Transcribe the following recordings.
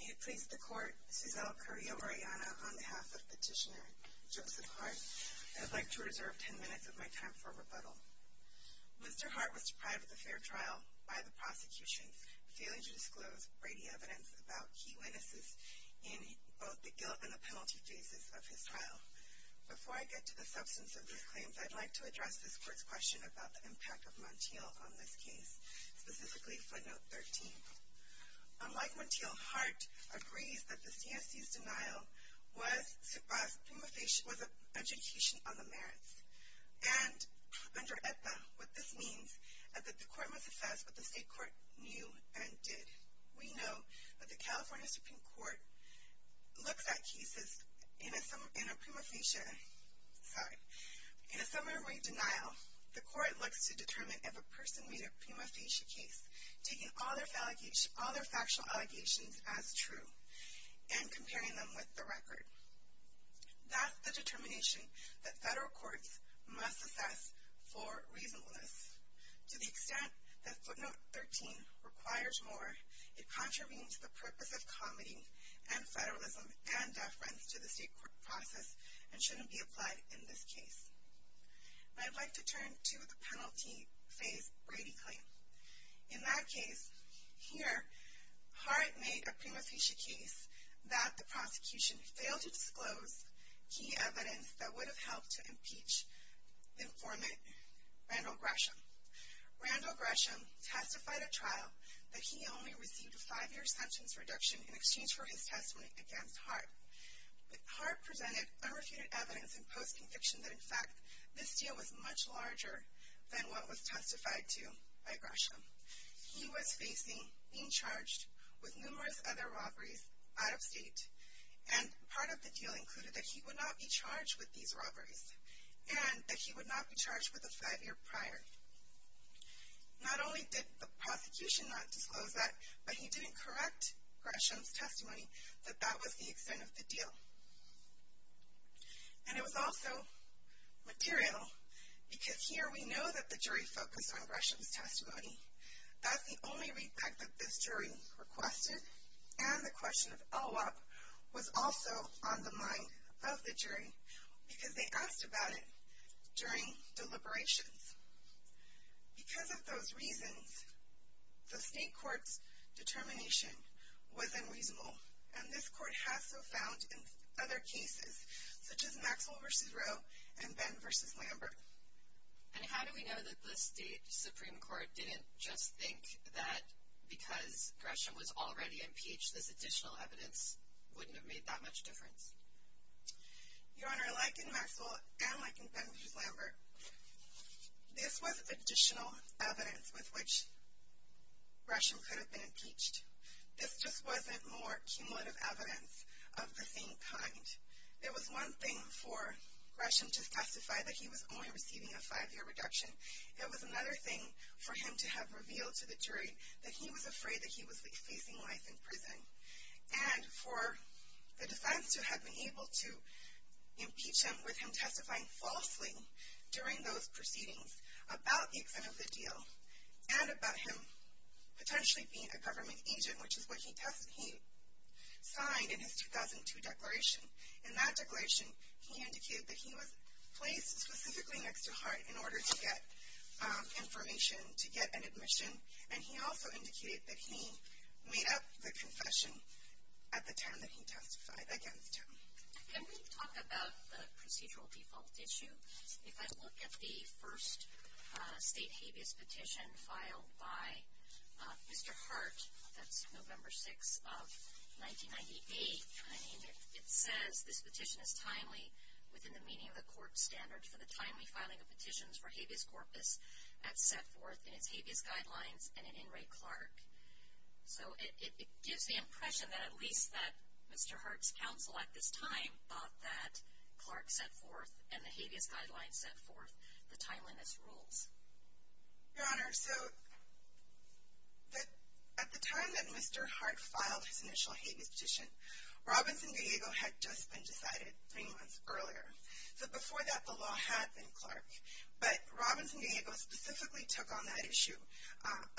May it please the Court, Mrs. L. Currie-Oriana, on behalf of Petitioner Joseph Hart, I'd like to reserve ten minutes of my time for rebuttal. Mr. Hart was deprived of the fair trial by the prosecution, failing to disclose Brady evidence about key witnesses in both the guilt and the penalty phases of his trial. Before I get to the substance of these claims, I'd like to address this Court's question about the impact of Montiel on this case, specifically footnote 13. Unlike Montiel, Hart agrees that the CSC's denial was education on the merits, and under EPA, what this means is that the Court must assess what the State Court knew and did. We know that the California Supreme Court looks at cases in a similar way to denial. The Court looks to determine if a person made a prima facie case, taking all their factual allegations as true, and comparing them with the record. That's the determination that federal courts must assess for reasonableness, to the extent that footnote 13 requires more. It contravenes the purpose of comedy and federalism and deference to the State Court process and shouldn't be applied in this case. I'd like to turn to the penalty phase Brady claim. In that case, here, Hart made a prima facie case that the prosecution failed to disclose key evidence that would have helped to impeach informant Randall Gresham. Randall Gresham testified at trial that he only received a five-year sentence reduction in exchange for his testimony against Hart. But Hart presented unrefuted evidence in post-conviction that, in fact, this deal was much larger than what was testified to by Gresham. He was facing being charged with numerous other robberies out of state, and part of the deal included that he would not be charged with these robberies, and that he would not be charged with a five-year prior. Not only did the prosecution not disclose that, but he didn't correct Gresham's testimony that that was the extent of the deal. And it was also material, because here we know that the jury focused on Gresham's testimony. That's the only readback that this jury requested, and the question of OOP was also on the mind of the jury, because they asked about it during deliberations. Because of those reasons, the state court's determination was unreasonable, and this court has so found in other cases, such as Maxwell v. Roe and Benn v. Lambert. And how do we know that the state Supreme Court didn't just think that because Gresham was already impeached, this additional evidence wouldn't have made that much difference? Your Honor, like in Maxwell and like in Benn v. Lambert, this was additional evidence with which Gresham could have been impeached. This just wasn't more cumulative evidence of the same kind. It was one thing for Gresham to testify that he was only receiving a five-year reduction. It was another thing for him to have revealed to the jury that he was afraid that he was facing life in prison. And for the defense to have been able to impeach him with him testifying falsely during those proceedings about the extent of the deal, and about him potentially being a government agent, which is what he signed in his 2002 declaration. In that declaration, he indicated that he was placed specifically next to Hart in order to get information to get an admission. And he also indicated that he made up the confession at the time that he testified against him. Can we talk about the procedural default issue? If I look at the first state habeas petition filed by Mr. Hart, that's November 6 of 1998, it says this petition is timely within the meaning of the court standard for the timely filing of petitions for habeas corpus as set forth in its habeas guidelines and in Wray-Clark. So it gives the impression that at least that Mr. Hart's counsel at this time thought that Clark set forth and the habeas guidelines set forth the timeliness rules. Your Honor, so at the time that Mr. Hart filed his initial habeas petition, Robinson, D.C. had just been decided three months earlier. So before that, the law had been Clark. But Robinson, D.C. specifically took on that issue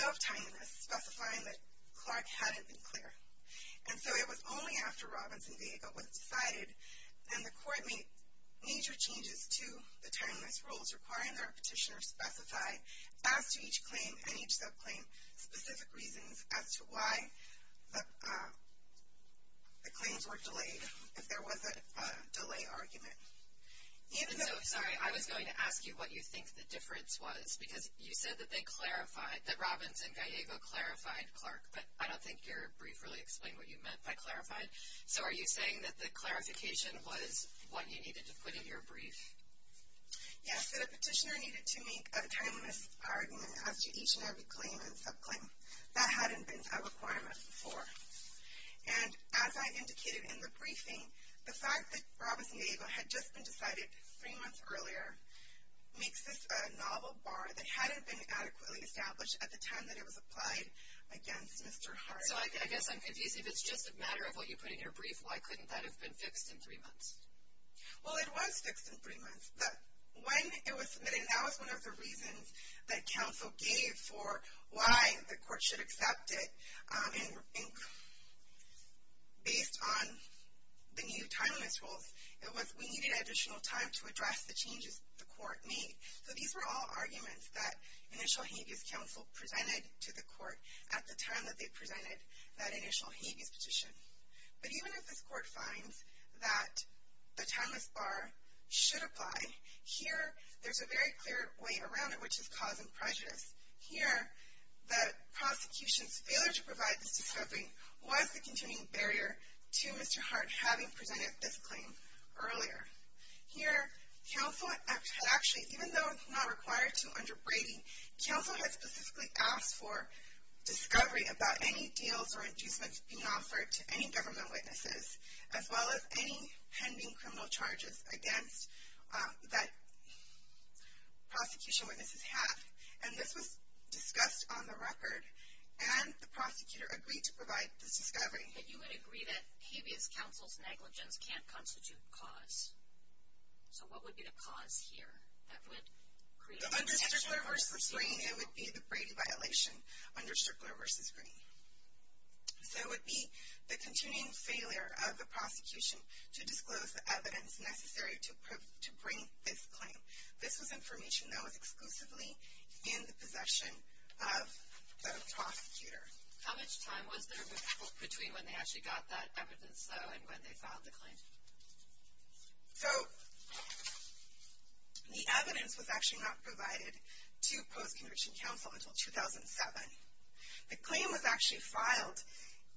of timeliness, specifying that Clark hadn't been clear. And so it was only after Robinson, D.C. was decided, then the court made major changes to the timeliness rules requiring that a petitioner specify as to each claim and each subclaim specific reasons as to why the claims were delayed, if there was a delay argument. Even though... And so, sorry, I was going to ask you what you think the difference was, because you said that they clarified, that Robinson, Gallego clarified Clark, but I don't think your brief really explained what you meant by clarified. So are you saying that the clarification was what you needed to put in your brief? Yes, that a petitioner needed to make a timeliness argument as to each and every claim and subclaim. That hadn't been a requirement before. And as I indicated in the briefing, the fact that Robinson, Gallego had just been decided three months earlier makes this a novel bar that hadn't been adequately established at the time that it was applied against Mr. Hart. So I guess I'm confused. If it's just a matter of what you put in your brief, why couldn't that have been fixed in three months? Well, it was fixed in three months, but when it was submitted, that was one of the reasons that counsel gave for why the court should accept it, and based on the new timeliness rules, it was we needed additional time to address the changes the court made. So these were all arguments that initial habeas counsel presented to the court at the time that they presented that initial habeas petition. But even if this court finds that the timeliness bar should apply, here there's a very clear way around it which is cause and prejudice. Here the prosecution's failure to provide this discovery was the continuing barrier to Mr. Hart having presented this claim earlier. Here counsel had actually, even though it's not required to under Brady, counsel had specifically asked for discovery about any deals or inducements being offered to any government witnesses as well as any pending criminal charges against that prosecution witnesses have. And this was discussed on the record, and the prosecutor agreed to provide this discovery. But you would agree that habeas counsel's negligence can't constitute cause. So what would be the cause here that would create the distinction between the two? The violation under Strickler v. Green. So it would be the continuing failure of the prosecution to disclose the evidence necessary to bring this claim. This was information that was exclusively in the possession of the prosecutor. How much time was there between when they actually got that evidence though and when they filed the claim? So the evidence was actually not provided to post-conviction counsel until 2007. The claim was actually filed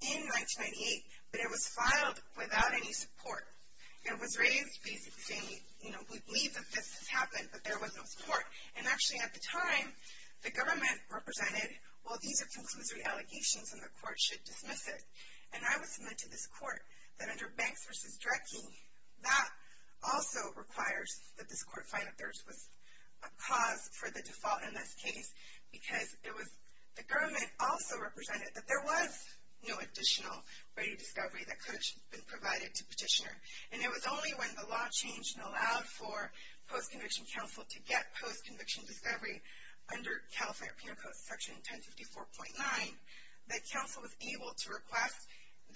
in 1998, but it was filed without any support. It was raised basically, you know, we believe that this has happened, but there was no support. And actually at the time, the government represented, well these are conclusory allegations and the court should dismiss it. And I would submit to this court that under Banks v. Drecke, that also requires that this court find that there was a cause for the default in this case because it was, the government also represented that there was no additional ready discovery that could have been provided to petitioner. And it was only when the law changed and allowed for post-conviction counsel to get post-conviction discovery under California Penal Code section 1054.9 that counsel was able to request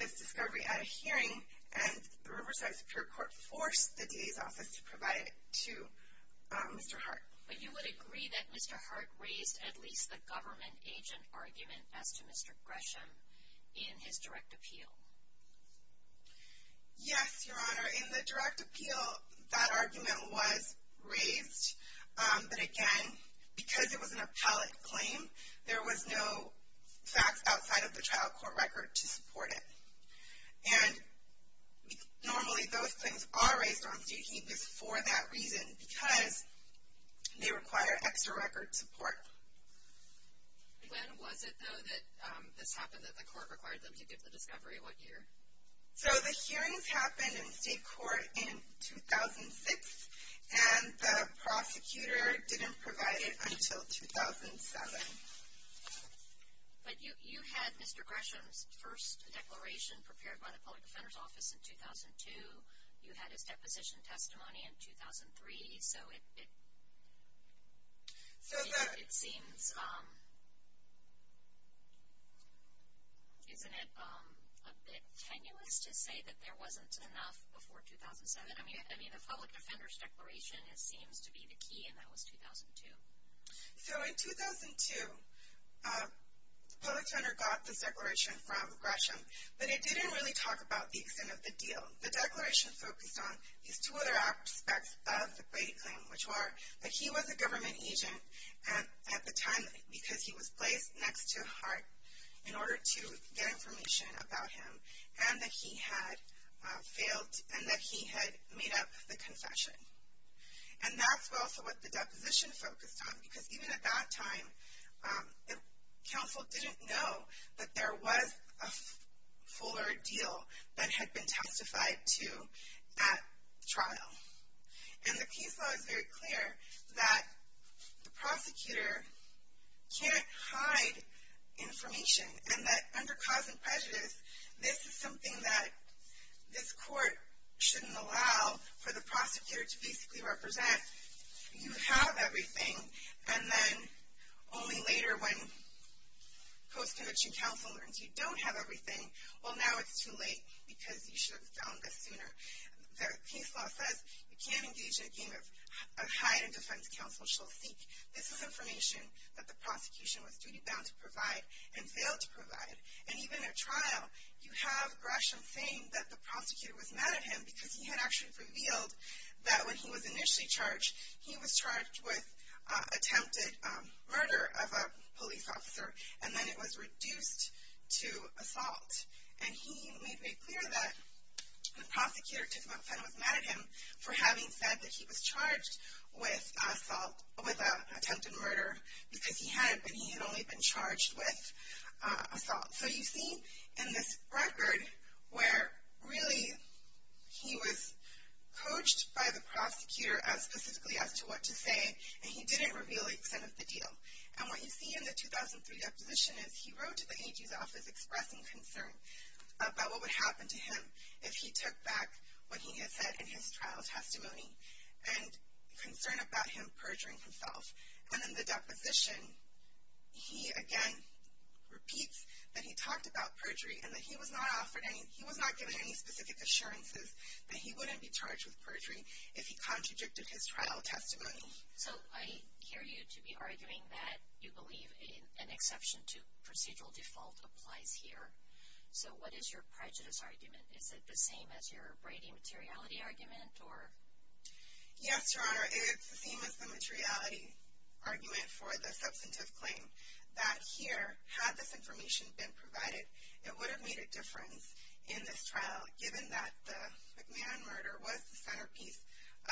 this discovery at a hearing and the Riverside Superior Court forced the DA's office to provide it to Mr. Hart. But you would agree that Mr. Hart raised at least the government agent argument as to Mr. Gresham in his direct appeal? Yes, Your Honor. In the direct appeal, that argument was raised, but again, because it was an appellate claim, there was no facts outside of the trial court record to support it. And normally those things are raised on state heaps for that reason because they require extra record support. When was it though that this happened that the court required them to give the discovery? What year? So the hearings happened in state court in 2006, and the prosecutor didn't provide it until 2007. But you had Mr. Gresham's first declaration prepared by the Public Defender's Office in 2002. You had his deposition testimony in 2003. So it seems, isn't it a bit tenuous to say that there wasn't enough before 2007? I mean, the Public Defender's declaration seems to be the key, and that was 2002. So in 2002, the public defender got this declaration from Gresham, but it didn't really talk about the extent of the deal. The declaration focused on these two other aspects of the Brady claim, which were that he was a government agent at the time because he was placed next to Hart in order to get information about him, and that he had failed and that he had made up the confession. And that's also what the deposition focused on because even at that time, the counsel didn't know that there was a fuller deal that had been testified to at trial. And the case law is very clear that the prosecutor can't hide information and that under cause and prejudice, this is something that this court shouldn't allow for the prosecutor to basically represent. You have everything, and then only later when post-conviction counsel learns you don't have everything, well now it's too late because you should have found this sooner. The case law says you can't engage in a game of hide and defense counsel shall seek. This is information that the prosecution was duty-bound to provide and failed to provide. And even at trial, you have Gresham saying that the prosecutor was mad at him because he had actually revealed that when he was initially charged, he was charged with attempted murder of a police officer, and then it was reduced to assault. And he made very clear that the prosecutor was mad at him for having said that he was charged with assault, with attempted murder, because he had only been charged with assault. So you see in this record where really he was coached by the prosecutor specifically as to what to say, and he didn't reveal the extent of the deal. And what you see in the 2003 deposition is he wrote to the AG's office expressing concern about what would happen to him if he took back what he had said in his trial testimony, and concern about him perjuring himself. And in the deposition, he again repeats that he talked about perjury and that he was not offered any, he was not given any specific assurances that he wouldn't be charged with perjury if he contradicted his trial testimony. So I hear you to be arguing that you believe an exception to procedural default applies here. So what is your prejudice argument? Is it the same as your Brady materiality argument or? Yes, Your Honor, it's the same as the materiality argument for the substantive claim. That here, had this information been provided, it would have made a difference in this trial, given that the McMahon murder was the centerpiece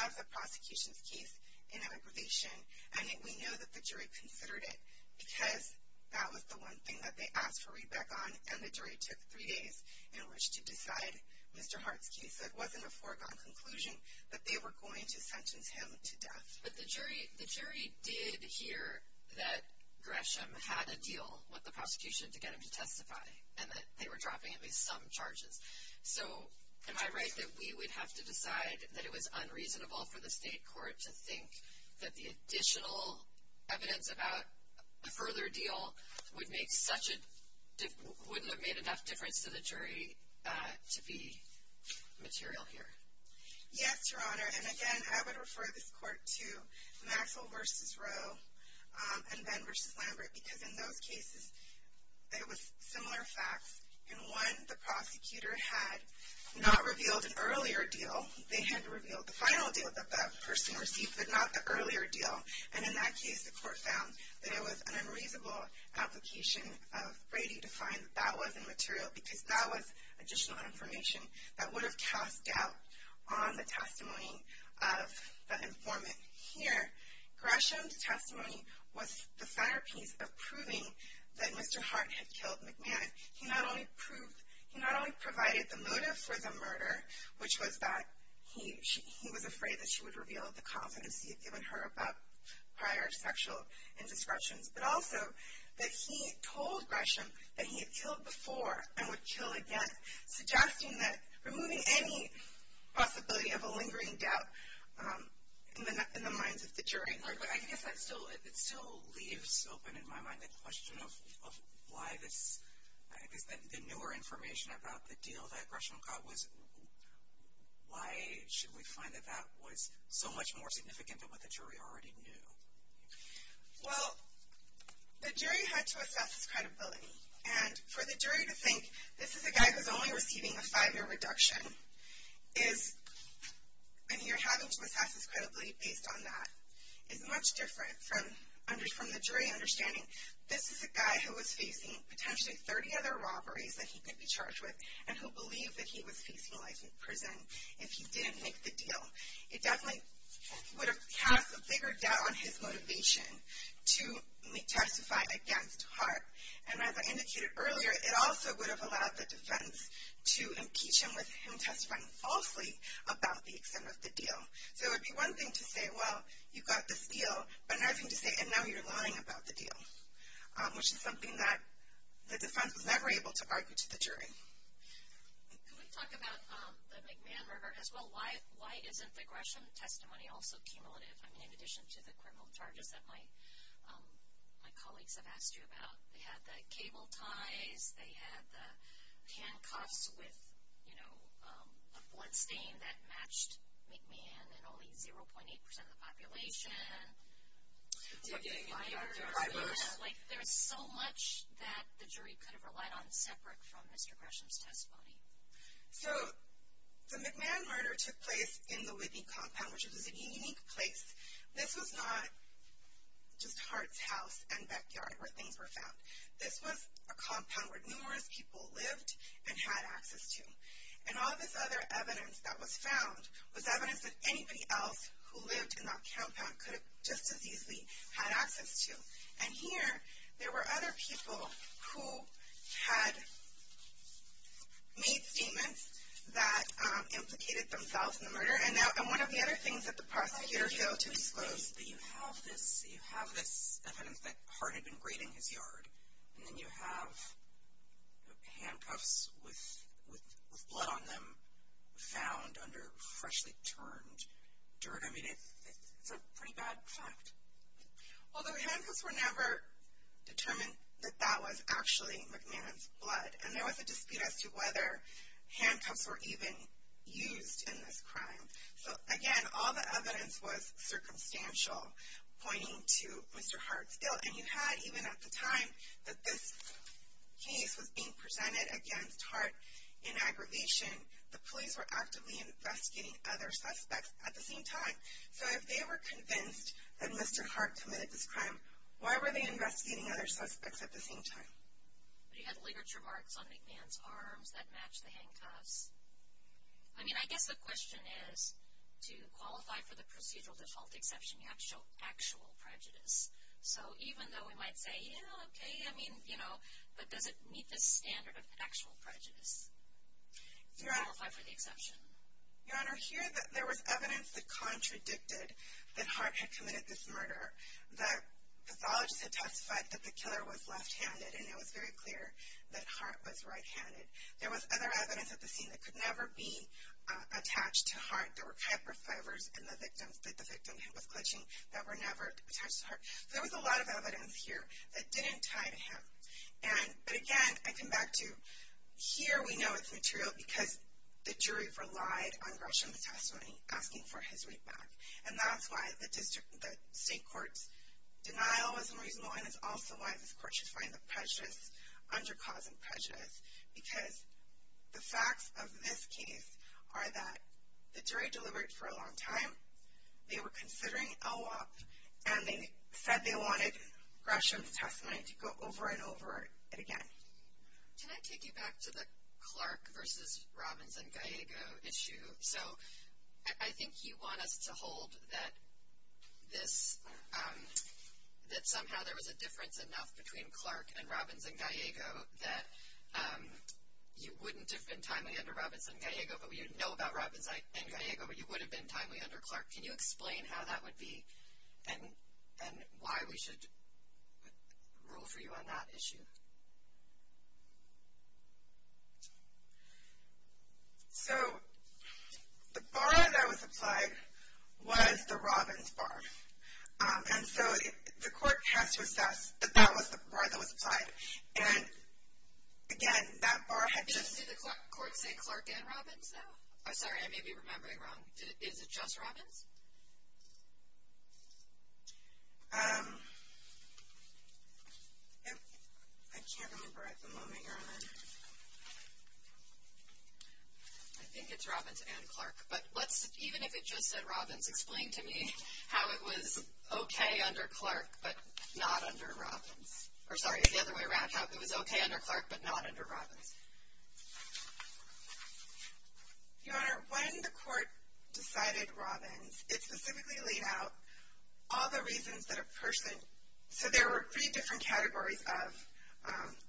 of the prosecution's case in aggravation, and yet we know that the jury considered it because that was the one thing that they asked for readback on, and the jury took three days in which to decide Mr. Hart's case. So it wasn't a foregone conclusion that they were going to sentence him to death. But the jury did hear that Gresham had a deal with the prosecution to get him to testify, and that they were dropping at least some charges. So am I right that we would have to decide that it was unreasonable for the state court to think that the additional evidence about a further deal wouldn't have made enough difference to the jury to be material here? Yes, Your Honor, and again, I would refer this court to Maxwell v. Roe and Ben v. Lambert, because in those cases, it was similar facts. In one, the prosecutor had not revealed an earlier deal. They had revealed the final deal that that person received, but not the earlier deal. And in that case, the court found that it was an unreasonable application of Brady to find that that wasn't material, because that was additional information that would have cast doubt on the testimony of the informant. Here, Gresham's testimony was the centerpiece of proving that Mr. Hart had killed McManus. He not only provided the motive for the murder, which was that he was afraid that she would reveal the confidence he had given her about prior sexual indiscretions, but also that he told Gresham that he had killed before and would kill again, suggesting that removing any possibility of a lingering doubt in the minds of the jury. But I guess that still leaves open in my mind the question of why this, I guess the newer information about the deal that Gresham got was, why should we find that that was so much more significant than what the jury already knew? Well, the jury had to assess his credibility. And for the jury to think, this is a guy who's only receiving a five-year reduction, and you're having to assess his credibility based on that, is much different from the jury understanding, this is a guy who was facing potentially 30 other robberies that he could be charged with and who believed that he was facing life in prison if he didn't make the deal. It definitely would have cast a bigger doubt on his motivation to testify against Hart. And as I indicated earlier, it also would have allowed the defense to impeach him with him testifying falsely about the extent of the deal. So it would be one thing to say, well, you got this deal, but another thing to say, and now you're lying about the deal, which is something that the defense was never able to argue to the jury. Can we talk about the McMahon murder as well? Why isn't the Gresham testimony also cumulative? I mean, in addition to the criminal charges that my colleagues have asked you about, they had the cable ties, they had the handcuffs with, you know, a bloodstain that matched McMahon and only 0.8% of the population. There's so much that the jury could have relied on separate from Mr. Gresham's testimony. So the McMahon murder took place in the Whitney compound, which was a unique place. This was not just Hart's house and backyard where things were found. This was a compound where numerous people lived and had access to. And all this other evidence that was found was evidence that anybody else who lived in that compound could have just as easily had access to. And here, there were other people who had made statements that implicated themselves in the murder. And one of the other things that the prosecutor failed to disclose is that you have this evidence that Hart had been grading his yard, and then you have handcuffs with blood on them found under freshly turned dirt. I mean, it's a pretty bad fact. Although handcuffs were never determined that that was actually McMahon's blood. And there was a dispute as to whether handcuffs were even used in this crime. So again, all the evidence was circumstantial, pointing to Mr. Hart's guilt. And you had, even at the time that this case was being presented against Hart in aggravation, the police were actively investigating other suspects at the same time. So if they were convinced that Mr. Hart committed this crime, why were they investigating other suspects at the same time? But he had literature marks on McMahon's arms that matched the handcuffs. I mean, I guess the question is, to qualify for the procedural default exception, you have to show actual prejudice. So even though we might say, yeah, okay, I mean, you know, but does it meet the standard of actual prejudice to qualify for the exception? Your Honor, here there was evidence that contradicted that Hart had committed this murder. The pathologist had testified that the killer was left-handed. And it was very clear that Hart was right-handed. There was other evidence at the scene that could never be attached to Hart. There were hyperfibers in the victim, that the victim was clutching, that were never attached to Hart. There was a lot of evidence here that didn't tie to him. And, but again, I come back to, here we know it's material because the jury relied on Gresham's testimony, asking for his right back. And that's why the district, the state court's denial was unreasonable, and it's also why this court should find the prejudice, under-causing prejudice, because the facts of this case are that the jury delivered for a long time. They were considering a law, and they said they wanted Gresham's testimony to go over and over again. Can I take you back to the Clark versus Robbins and Gallego issue? So I think you want us to hold that this, that somehow there was a difference enough between Clark and Robbins and Gallego that you wouldn't have been timely under Robbins and Gallego, but you'd know about Robbins and Gallego, but you would have been timely under Clark. Can you explain how that would be, and why we should rule for you on that issue? So the bar that was applied was the Robbins bar. And so the court has to assess that that was the bar that was applied. And, again, that bar had just. Did you just hear the court say Clark and Robbins now? Sorry, I may be remembering wrong. Is it just Robbins? I can't remember at the moment. I think it's Robbins and Clark. But even if it just said Robbins, explain to me how it was okay under Clark but not under Robbins. Or, sorry, the other way around. How it was okay under Clark but not under Robbins. Your Honor, when the court decided Robbins, it specifically laid out all the reasons that a person. So there were three different categories of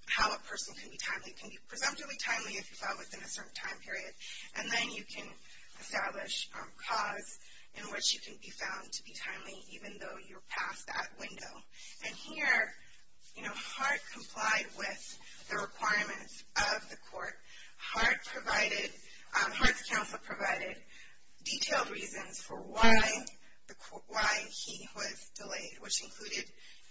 how a person can be timely. It can be presumptively timely if you found within a certain time period. And then you can establish a cause in which you can be found to be timely even though you're past that window. And here, you know, Hart complied with the requirements of the court. Hart's counsel provided detailed reasons for why he was delayed, which included,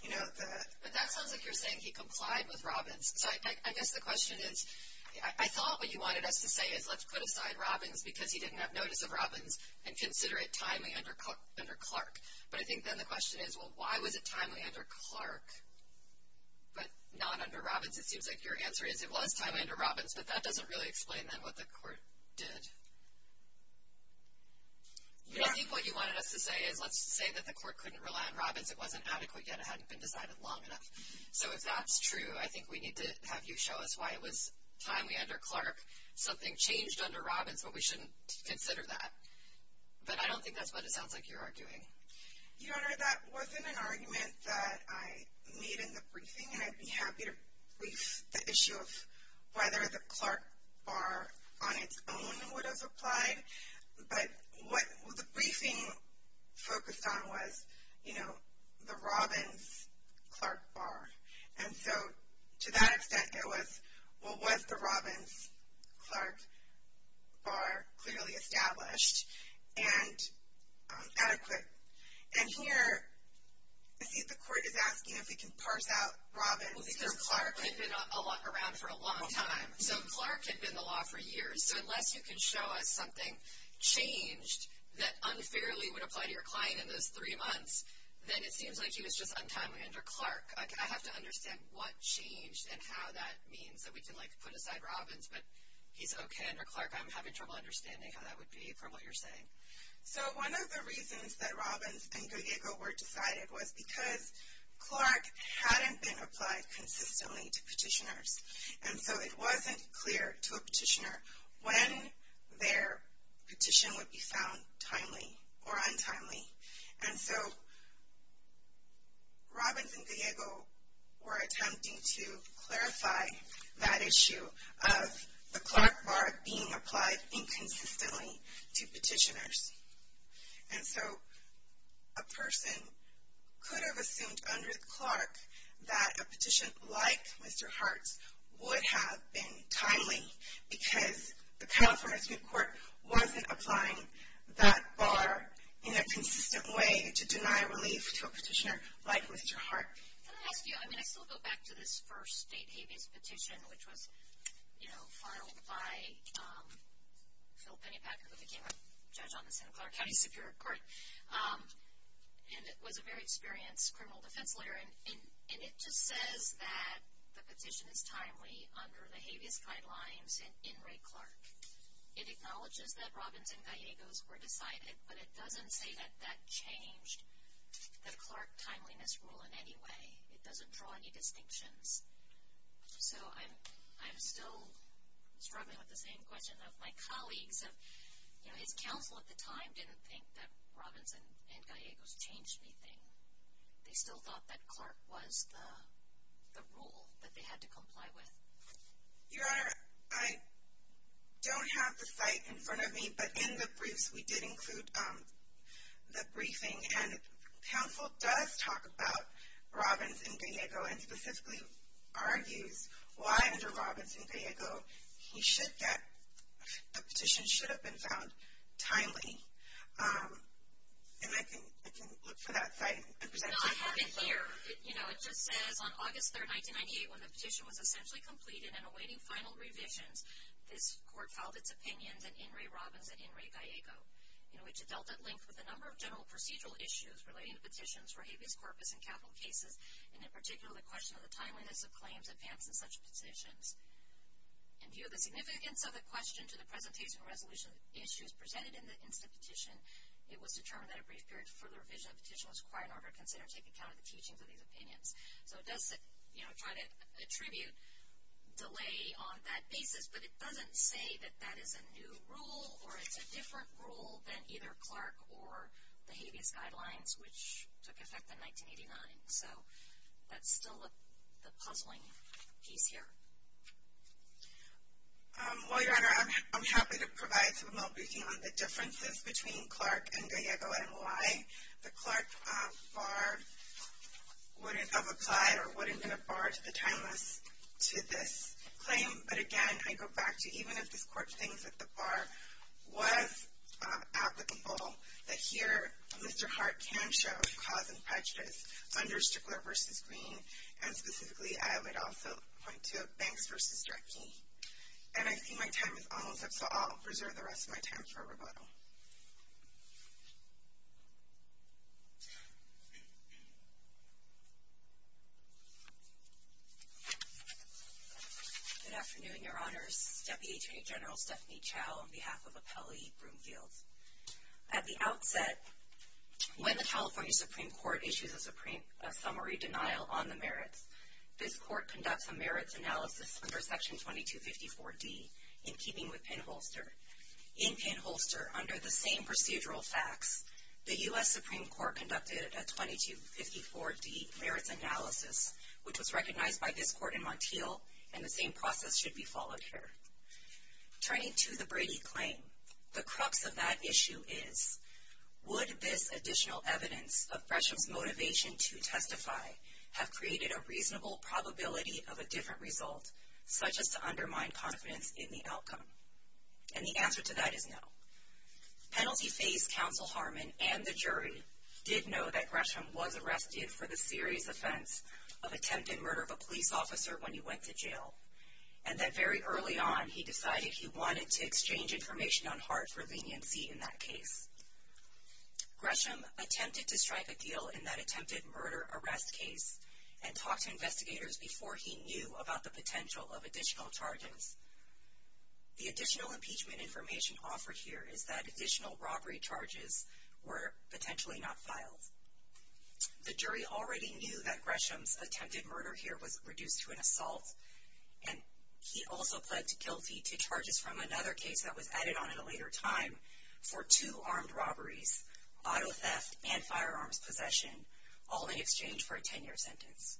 you know, the... But that sounds like you're saying he complied with Robbins. So I guess the question is I thought what you wanted us to say is let's put aside Robbins because he didn't have notice of Robbins and consider it timely under Clark. But I think then the question is, well, why was it timely under Clark but not under Robbins? It seems like your answer is it was timely under Robbins, but that doesn't really explain then what the court did. I think what you wanted us to say is let's say that the court couldn't rely on Robbins. It wasn't adequate yet. It hadn't been decided long enough. So if that's true, I think we need to have you show us why it was timely under Clark. Something changed under Robbins, but we shouldn't consider that. But I don't think that's what it sounds like you're arguing. Your Honor, that wasn't an argument that I made in the briefing, and I'd be happy to brief the issue of whether the Clark bar on its own would have applied. But what the briefing focused on was, you know, the Robbins-Clark bar. And so to that extent, it was, well, was the Robbins-Clark bar clearly established and adequate? And here I see that the court is asking if we can parse out Robbins. Well, because Clark had been around for a long time. So Clark had been the law for years. So unless you can show us something changed that unfairly would apply to your client in those three months, then it seems like it was just untimely under Clark. I have to understand what changed and how that means. So we can, like, put aside Robbins, but he's okay under Clark. I'm having trouble understanding how that would be from what you're saying. So one of the reasons that Robbins and Goyega were decided was because Clark hadn't been applied consistently to petitioners. And so it wasn't clear to a petitioner when their petition would be found timely or untimely. And so Robbins and Goyega were attempting to clarify that issue of the Clark bar being applied inconsistently to petitioners. And so a person could have assumed under Clark that a petition like Mr. Hart's would have been timely because the California Supreme Court wasn't applying that bar in a consistent way to deny relief to a petitioner like Mr. Hart. Can I ask you, I mean, I still go back to this first state habeas petition which was, you know, filed by Phil Pennypacker who became a judge on the Santa Clara County Superior Court and was a very experienced criminal defense lawyer. And it just says that the petition is timely under the habeas guidelines in Ray Clark. It acknowledges that Robbins and Goyega were decided, but it doesn't say that that changed the Clark timeliness rule in any way. It doesn't draw any distinctions. So I'm still struggling with the same question of my colleagues. You know, his counsel at the time didn't think that Robbins and Goyega changed anything. They still thought that Clark was the rule that they had to comply with. Your Honor, I don't have the site in front of me, but in the briefs we did include the briefing. And counsel does talk about Robbins and Goyega and specifically argues why under Robbins and Goyega the petition should have been found timely. And I can look for that site. No, I have it here. You know, it just says on August 3, 1998, when the petition was essentially completed and awaiting final revisions, this court filed its opinion that in Ray Robbins and in Ray Goyega, in which it dealt at length with a number of general procedural issues relating to petitions for habeas corpus and capital cases, and in particular the question of the timeliness of claims advanced in such petitions. In view of the significance of the question to the presentation resolution issues presented in the instant petition, it was determined that a brief period for the revision of the petition was required in order to consider and take account of the teachings of these opinions. So it does, you know, try to attribute delay on that basis, but it doesn't say that that is a new rule or it's a different rule than either Clark or the habeas guidelines, which took effect in 1989. So that's still the puzzling piece here. Well, Your Honor, I'm happy to provide some more briefing on the differences between Clark and Goyega and why the Clark bar would have applied or would have been a bar to the timeliness to this claim. But again, I go back to even if this court thinks that the bar was applicable, that here Mr. Hart can show cause and prejudice under Strickler v. Green, and specifically I would also point to Banks v. Drecke. And I see my time is almost up, so I'll preserve the rest of my time for rebuttal. Thank you. Good afternoon, Your Honors. Deputy Attorney General Stephanie Chao on behalf of Appellee Broomfield. At the outset, when the California Supreme Court issues a summary denial on the merits, this court conducts a merits analysis under Section 2254D in keeping with Penn-Holster. In Penn-Holster, under the same procedural facts, the U.S. Supreme Court conducted a 2254D merits analysis, which was recognized by this court in Montiel, and the same process should be followed here. Turning to the Brady claim, the crux of that issue is, would this additional evidence of Gresham's motivation to testify have created a reasonable probability of a different result, such as to undermine confidence in the outcome? And the answer to that is no. Penalty phase counsel Harmon and the jury did know that Gresham was arrested for the serious offense of attempted murder of a police officer when he went to jail, and that very early on he decided he wanted to exchange information on Hart for leniency in that case. Gresham attempted to strike a deal in that attempted murder-arrest case and talked to investigators before he knew about the potential of additional charges. The additional impeachment information offered here is that additional robbery charges were potentially not filed. The jury already knew that Gresham's attempted murder here was reduced to an assault, and he also pled guilty to charges from another case that was added on in a later time for two armed robberies, auto theft, and firearms possession, all in exchange for a 10-year sentence.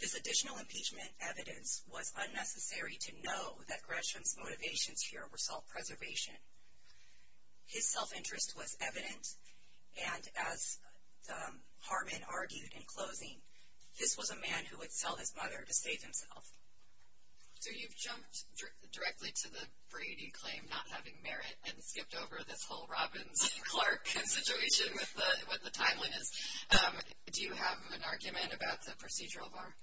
This additional impeachment evidence was unnecessary to know that Gresham's motivations here were self-preservation. His self-interest was evident, and as Harmon argued in closing, this was a man who would sell his mother to save himself. So you've jumped directly to the Brady claim not having merit and skipped over this whole Robbins-Clark situation with the timeliness. Do you have an argument about the procedural bar?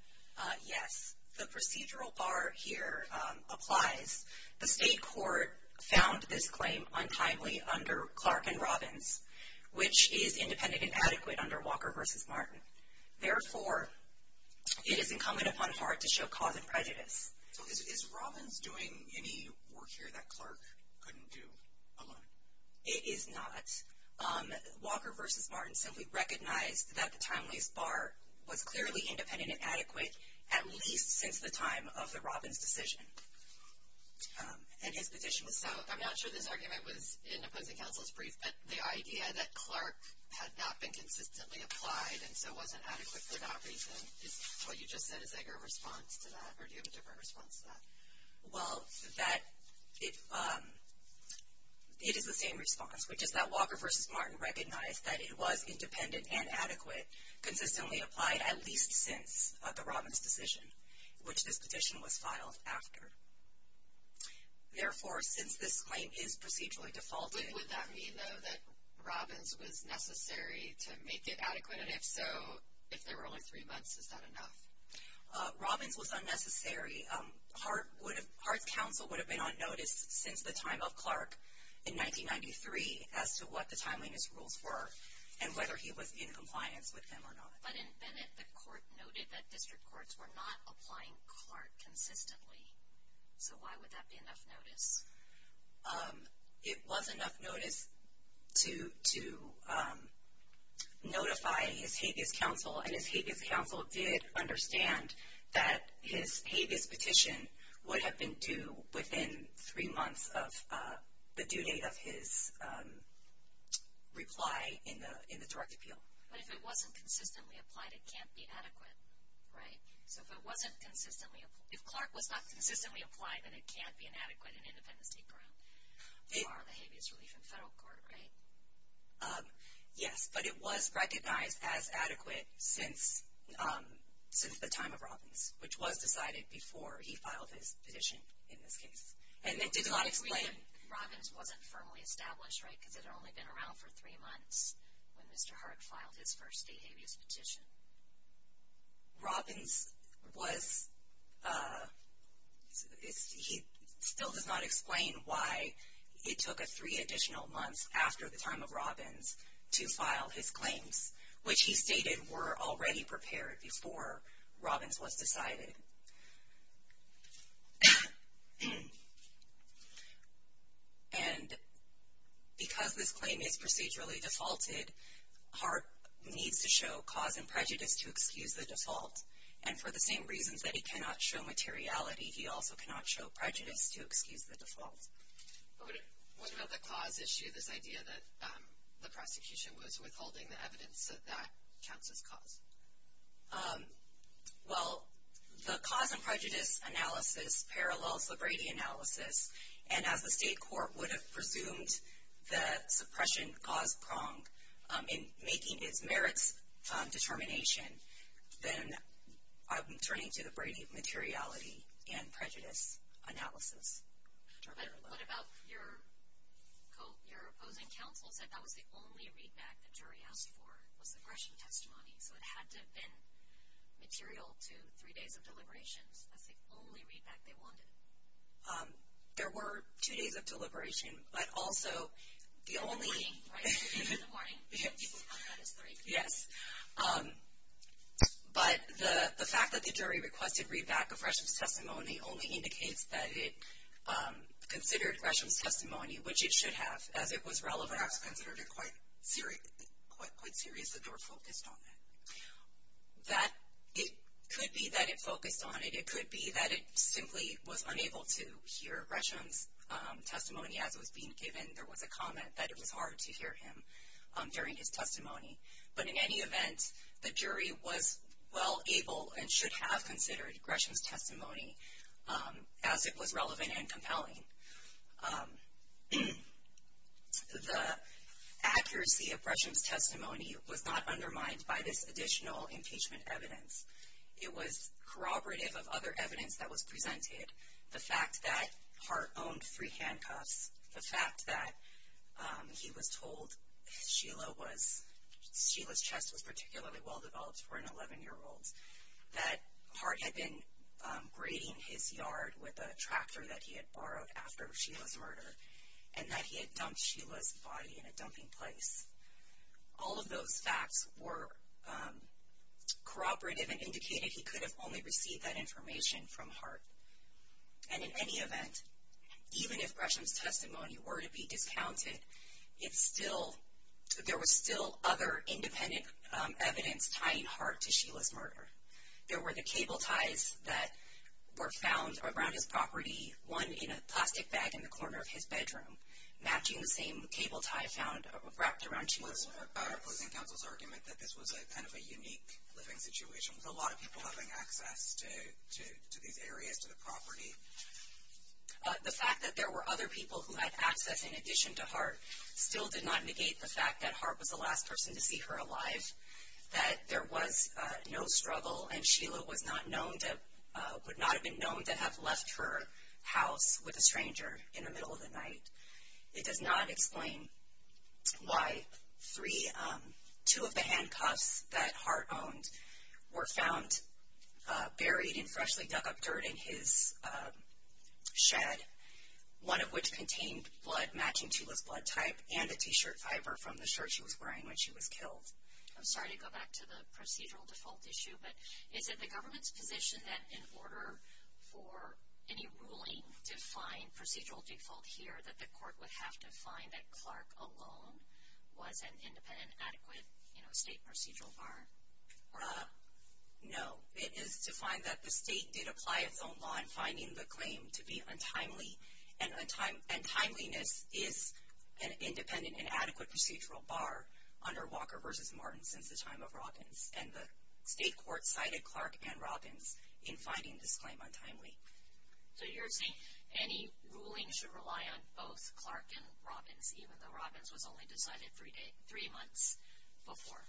Yes, the procedural bar here applies. The state court found this claim untimely under Clark and Robbins, which is independent and adequate under Walker v. Martin. Therefore, it is incumbent upon Hart to show cause and prejudice. So is Robbins doing any work here that Clark couldn't do alone? It is not. Walker v. Martin simply recognized that the timeliness bar was clearly independent and adequate, at least since the time of the Robbins decision, and his petition was so. I'm not sure this argument was in opposing counsel's brief, but the idea that Clark had not been consistently applied and so wasn't adequate for that reason, what you just said, is that your response to that, or do you have a different response to that? Well, it is the same response, which is that Walker v. Martin recognized that it was independent and adequate, consistently applied at least since the Robbins decision, which this petition was filed after. Therefore, since this claim is procedurally defaulting Why would that mean, though, that Robbins was necessary to make it adequate? And if so, if there were only three months, is that enough? Robbins was unnecessary. Hart's counsel would have been on notice since the time of Clark in 1993 as to what the timeliness rules were and whether he was in compliance with them or not. But in Bennett, the court noted that district courts were not applying Clark consistently. So why would that be enough notice? It was enough notice to notify his habeas counsel, and his habeas counsel did understand that his habeas petition would have been due within three months of the due date of his reply in the direct appeal. But if it wasn't consistently applied, it can't be adequate, right? So if it wasn't consistently, if Clark was not consistently applied, then it can't be inadequate in independent state court or the habeas relief in federal court, right? Yes, but it was recognized as adequate since the time of Robbins, which was decided before he filed his petition in this case. And it did not explain. Robbins wasn't firmly established, right, because it had only been around for three months when Mr. Hart filed his first state habeas petition. And Robbins was, he still does not explain why it took three additional months after the time of Robbins to file his claims, which he stated were already prepared before Robbins was decided. And because this claim is procedurally defaulted, Hart needs to show cause and prejudice to excuse the default. And for the same reasons that he cannot show materiality, he also cannot show prejudice to excuse the default. What about the cause issue, this idea that the prosecution was withholding the evidence that that counts as cause? Well, the cause and prejudice analysis parallels the Brady analysis. And as the state court would have presumed that suppression caused wrong in making its merits determination, then I'm turning to the Brady materiality and prejudice analysis. What about your opposing counsel said that was the only readback the jury asked for was the Gresham testimony? So it had to have been material to three days of deliberations. That's the only readback they wanted. There were two days of deliberation, but also the only – In the morning, right? In the morning. That is three. Yes. But the fact that the jury requested readback of Gresham's testimony only indicates that it considered Gresham's testimony, which it should have, as it was relevant. I was considering it quite serious that they were focused on it. It could be that it focused on it. It could be that it simply was unable to hear Gresham's testimony as it was being given. There was a comment that it was hard to hear him during his testimony. But in any event, the jury was well able and should have considered Gresham's testimony as it was relevant and compelling. The accuracy of Gresham's testimony was not undermined by this additional impeachment evidence. It was corroborative of other evidence that was presented. The fact that Hart owned three handcuffs, the fact that he was told Sheila's chest was particularly well-developed for an 11-year-old, the fact that Hart had been grading his yard with a tractor that he had borrowed after Sheila's murder, and that he had dumped Sheila's body in a dumping place. All of those facts were corroborative and indicated he could have only received that information from Hart. And in any event, even if Gresham's testimony were to be discounted, there was still other independent evidence tying Hart to Sheila's murder. There were the cable ties that were found around his property, one in a plastic bag in the corner of his bedroom, matching the same cable tie found wrapped around Sheila's murder. Was the opposing counsel's argument that this was kind of a unique living situation, with a lot of people having access to these areas, to the property? The fact that there were other people who had access in addition to Hart still did not negate the fact that Hart was the last person to see her alive, that there was no struggle and Sheila would not have been known to have left her house with a stranger in the middle of the night. It does not explain why two of the handcuffs that Hart owned were found buried in freshly dug up dirt in his shed, one of which contained blood matching Sheila's blood type and a t-shirt fiber from the shirt she was wearing when she was killed. I'm sorry to go back to the procedural default issue, but is it the government's position that in order for any ruling to find procedural default here, that the court would have to find that Clark alone was an independent, adequate state procedural bar? No. It is to find that the state did apply its own law in finding the claim to be untimely, and timeliness is an independent and adequate procedural bar under Walker v. Martin since the time of Robbins, and the state court cited Clark and Robbins in finding this claim untimely. So you're saying any ruling should rely on both Clark and Robbins, even though Robbins was only decided three months before?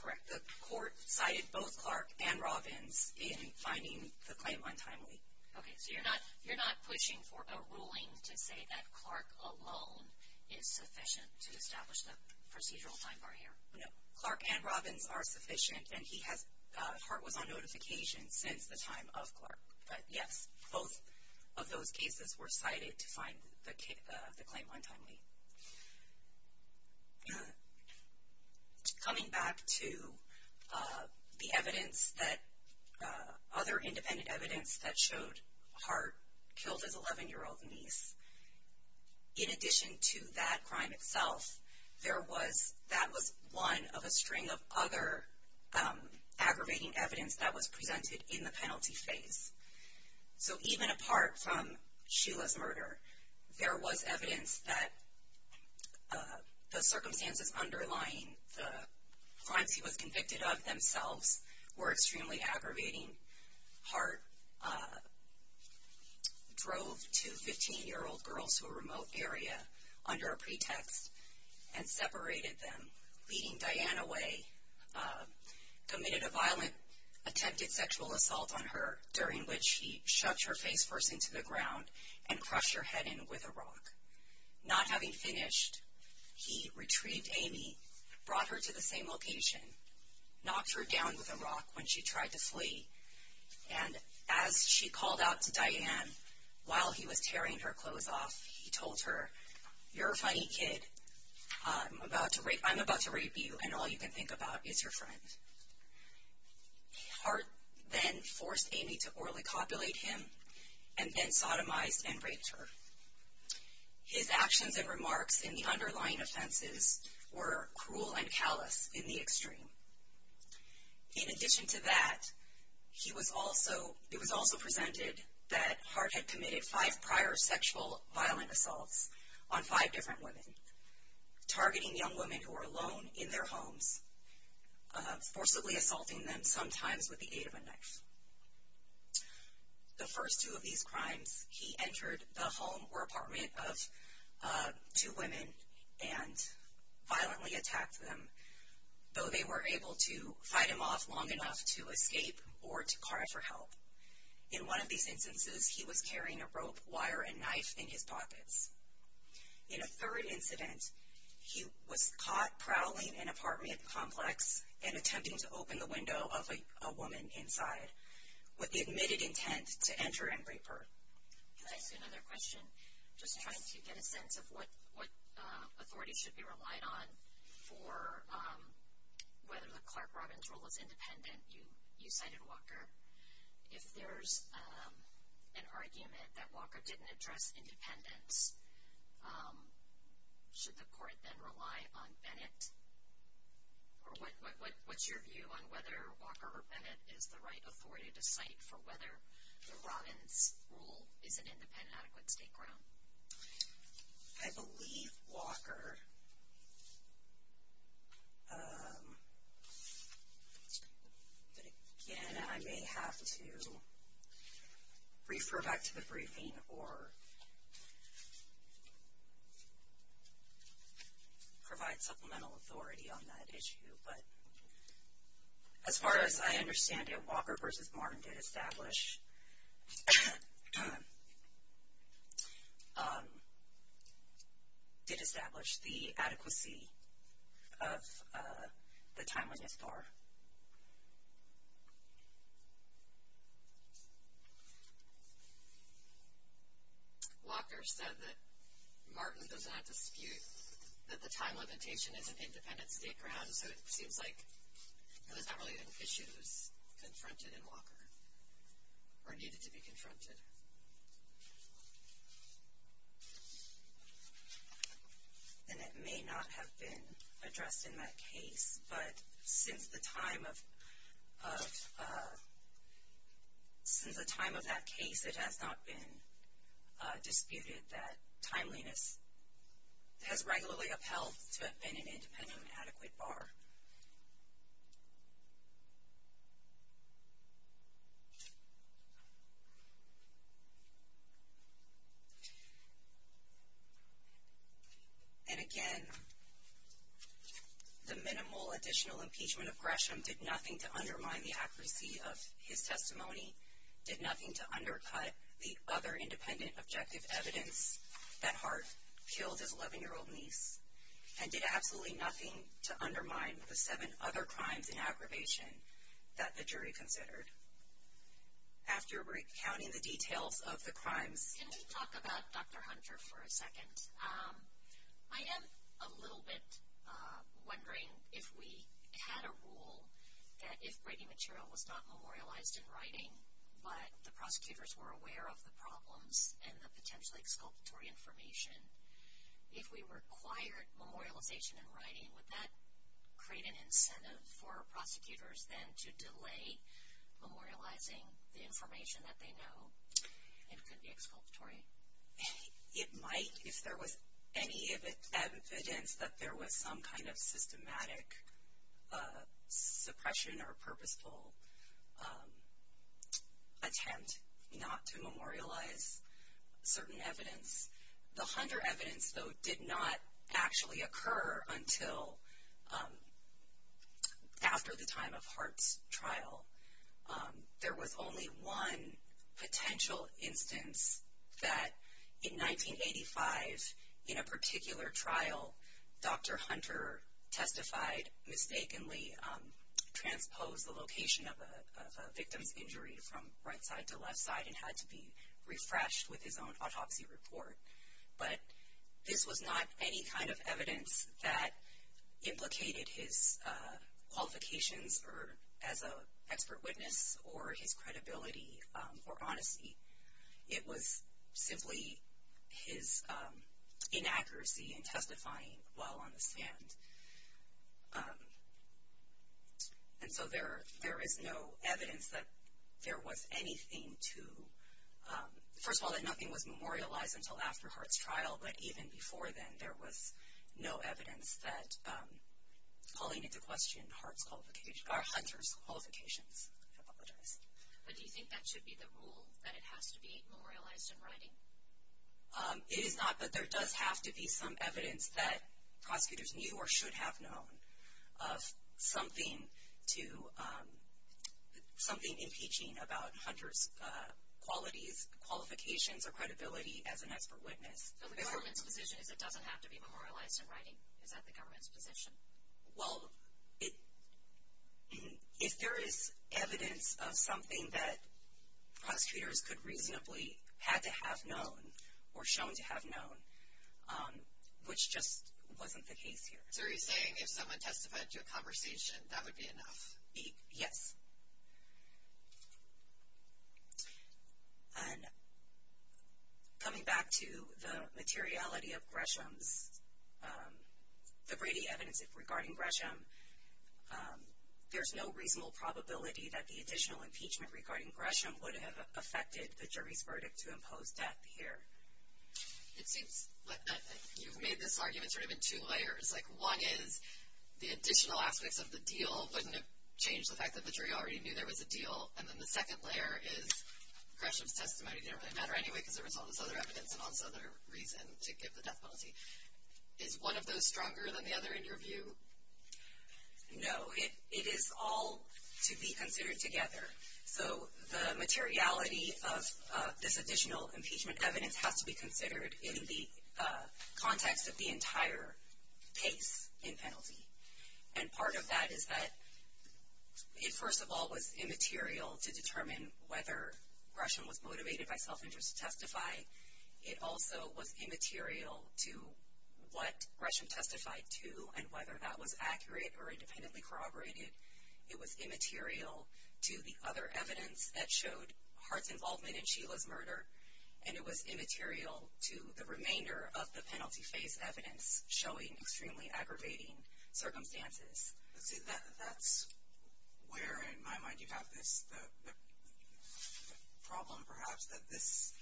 Correct. The court cited both Clark and Robbins in finding the claim untimely. Okay. So you're not pushing for a ruling to say that Clark alone is sufficient to establish the procedural time bar here? No. Clark and Robbins are sufficient, and Hart was on notification since the time of Clark. But yes, both of those cases were cited to find the claim untimely. Okay. Coming back to the evidence that other independent evidence that showed Hart killed his 11-year-old niece, in addition to that crime itself, that was one of a string of other aggravating evidence that was presented in the penalty phase. So even apart from Sheila's murder, there was evidence that the circumstances underlying the crimes he was convicted of themselves were extremely aggravating. Hart drove two 15-year-old girls to a remote area under a pretext and separated them, leading Diane away, committed a violent attempted sexual assault on her, during which he shoved her face first into the ground and crushed her head in with a rock. Not having finished, he retrieved Amy, brought her to the same location, knocked her down with a rock when she tried to flee, and as she called out to Diane while he was tearing her clothes off, he told her, You're a funny kid. I'm about to rape you, and all you can think about is your friend. Hart then forced Amy to orally copulate him and then sodomized and raped her. His actions and remarks in the underlying offenses were cruel and callous in the extreme. In addition to that, it was also presented that Hart had committed five prior sexual violent assaults on five different women, targeting young women who were alone in their homes, forcibly assaulting them, sometimes with the aid of a knife. The first two of these crimes, he entered the home or apartment of two women and violently attacked them, though they were able to fight him off long enough to escape or to cry for help. In one of these instances, he was carrying a rope, wire, and knife in his pockets. In a third incident, he was caught prowling an apartment complex and attempting to open the window of a woman inside with the admitted intent to enter and rape her. Can I ask you another question? Just trying to get a sense of what authority should be relied on for whether the Clark-Robbins rule is independent. You cited Walker. If there's an argument that Walker didn't address independence, should the court then rely on Bennett? Or what's your view on whether Walker or Bennett is the right authority to cite for whether the Robbins rule is an independent, adequate state ground? I believe Walker, but again, I may have to refer back to the briefing or provide supplemental authority on that issue. As far as I understand it, Walker versus Martin did establish the adequacy of the time limit bar. Walker said that Martin doesn't have to dispute that the time limitation is an independent state ground, so it seems like it was not really an issue that was confronted in Walker or needed to be confronted. And it may not have been addressed in that case, but since the time of that case, it has not been disputed that timeliness has regularly upheld to have been an independent, adequate bar. And again, the minimal additional impeachment of Gresham did nothing to undermine the accuracy of his testimony, did nothing to undercut the other independent objective evidence that Hart killed his 11-year-old niece, and did absolutely nothing to undermine the seven other crimes in aggravation that the jury considered. After recounting the details of the crimes. Can we talk about Dr. Hunter for a second? I am a little bit wondering if we had a rule that if writing material was not memorialized in writing, but the prosecutors were aware of the problems and the potentially exculpatory information, if we required memorialization in writing, would that create an incentive for prosecutors then to delay memorializing the information that they know and could be exculpatory? It might if there was any evidence that there was some kind of systematic suppression or purposeful attempt not to memorialize certain evidence. The Hunter evidence, though, did not actually occur until after the time of Hart's trial. There was only one potential instance that in 1985, in a particular trial, Dr. Hunter testified, mistakenly transposed the location of a victim's injury from right side to left side and had to be refreshed with his own autopsy report. But this was not any kind of evidence that implicated his qualifications as an expert witness or his credibility or honesty. It was simply his inaccuracy in testifying while on the stand. And so there is no evidence that there was anything to, first of all, that nothing was memorialized until after Hart's trial, but even before then, there was no evidence that calling into question Hunter's qualifications. But do you think that should be the rule, that it has to be memorialized in writing? It is not, but there does have to be some evidence that prosecutors knew or should have known of something impeaching about Hunter's qualities, qualifications, or credibility as an expert witness. So the government's position is it doesn't have to be memorialized in writing? Is that the government's position? Well, if there is evidence of something that prosecutors could reasonably have to have known or shown to have known, which just wasn't the case here. So are you saying if someone testified to a conversation, that would be enough? Yes. And coming back to the materiality of Gresham's, the Brady evidence regarding Gresham, there's no reasonable probability that the additional impeachment regarding Gresham would have affected the jury's verdict to impose death here. It seems like you've made this argument sort of in two layers. Like one is the additional aspects of the deal wouldn't have changed the fact that the jury already knew there was a deal. And then the second layer is Gresham's testimony didn't really matter anyway because there was all this other evidence and all this other reason to give the death penalty. Is one of those stronger than the other in your view? No. It is all to be considered together. So the materiality of this additional impeachment evidence has to be considered in the context of the entire case in penalty. And part of that is that it first of all was immaterial to determine whether Gresham was motivated by self-interest to testify. It also was immaterial to what Gresham testified to and whether that was accurate or independently corroborated. It was immaterial to the other evidence that showed Hart's involvement in Sheila's murder. And it was immaterial to the remainder of the penalty phase evidence showing extremely aggravating circumstances. That's where in my mind you have this problem perhaps that this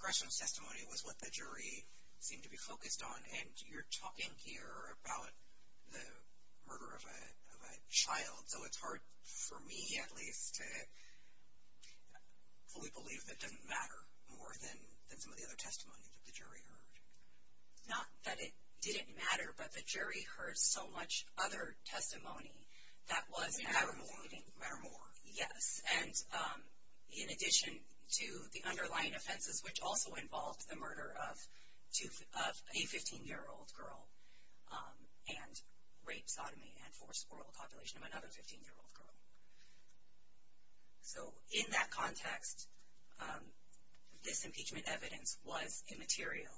Gresham's testimony was what the jury seemed to be focused on. And you're talking here about the murder of a child. So it's hard for me at least to fully believe that it doesn't matter more than some of the other testimonies that the jury heard. Not that it didn't matter, but the jury heard so much other testimony. It didn't matter more. Yes, and in addition to the underlying offenses which also involved the murder of a 15-year-old girl and rape, sodomy, and forced oral copulation of another 15-year-old girl. So in that context, this impeachment evidence was immaterial.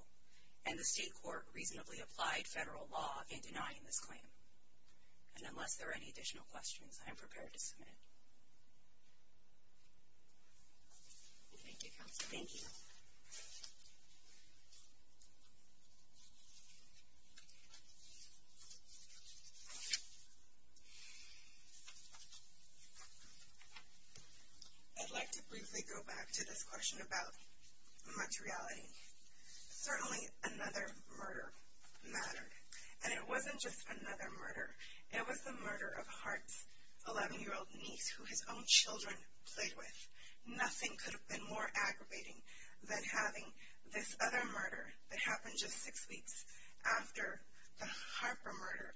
And the state court reasonably applied federal law in denying this claim. And unless there are any additional questions, I am prepared to submit. Thank you, counsel. Thank you. I'd like to briefly go back to this question about much reality. Certainly another murder mattered. And it wasn't just another murder. It was the murder of Hart's 11-year-old niece who his own children played with. Nothing could have been more aggravating than having this other murder that happened just six weeks after the Harper murder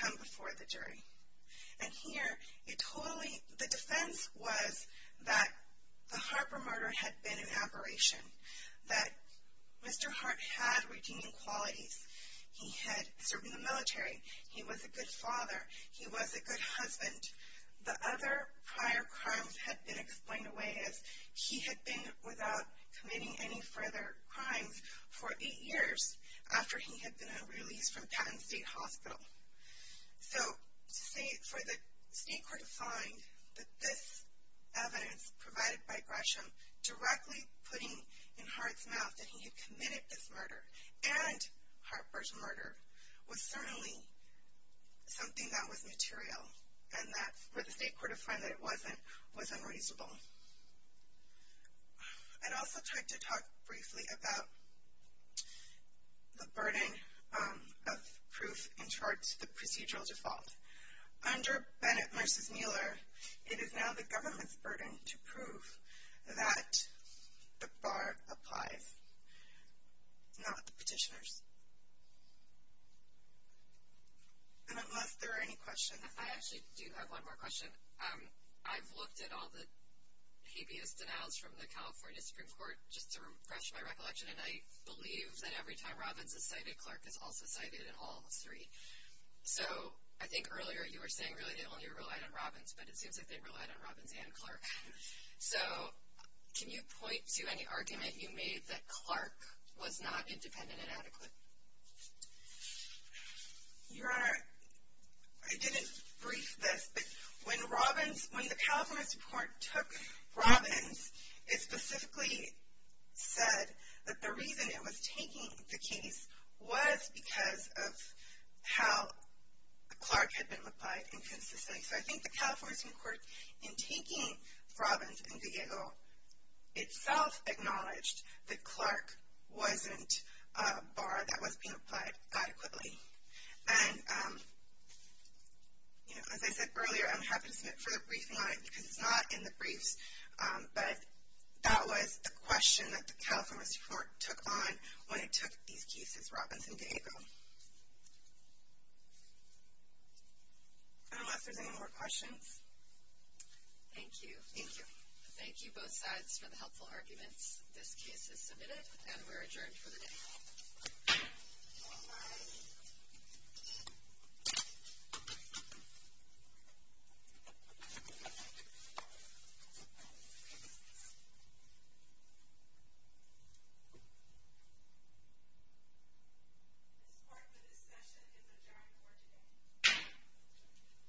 come before the jury. And here, the defense was that the Harper murder had been an aberration. That Mr. Hart had redeeming qualities. He had served in the military. He was a good father. He was a good husband. The other prior crimes had been explained away as he had been without committing any further crimes for eight years after he had been released from Patton State Hospital. So to say for the state court to find that this evidence provided by Gresham directly putting in Hart's mouth that he had committed this murder and Harper's murder was certainly something that was material. And for the state court to find that it wasn't was unreasonable. I'd also like to talk briefly about the burden of proof in charge of the procedural default. Under Bennett v. Mueller, it is now the government's burden to prove that the bar applies, not the petitioner's. And unless there are any questions. I actually do have one more question. I've looked at all the habeas denials from the California Supreme Court just to refresh my recollection, and I believe that every time Robbins is cited, Clark is also cited in all three. So I think earlier you were saying really they only relied on Robbins, but it seems like they relied on Robbins and Clark. So can you point to any argument you made that Clark was not independent and adequate? Your Honor, I didn't brief this, but when Robbins, when the California Supreme Court took Robbins, it specifically said that the reason it was taking the case was because of how Clark had been applied inconsistently. So I think the California Supreme Court, in taking Robbins and Villego, itself acknowledged that Clark wasn't a bar that was being applied adequately. And as I said earlier, I'm happy to submit further briefing on it because it's not in the briefs, but that was the question that the California Supreme Court took on when it took these cases, Robbins and Villego. I don't know if there's any more questions. Thank you. Thank you. Thank you both sides for the helpful arguments. This case is submitted and we're adjourned for the day. This court for this session is adjourned for today.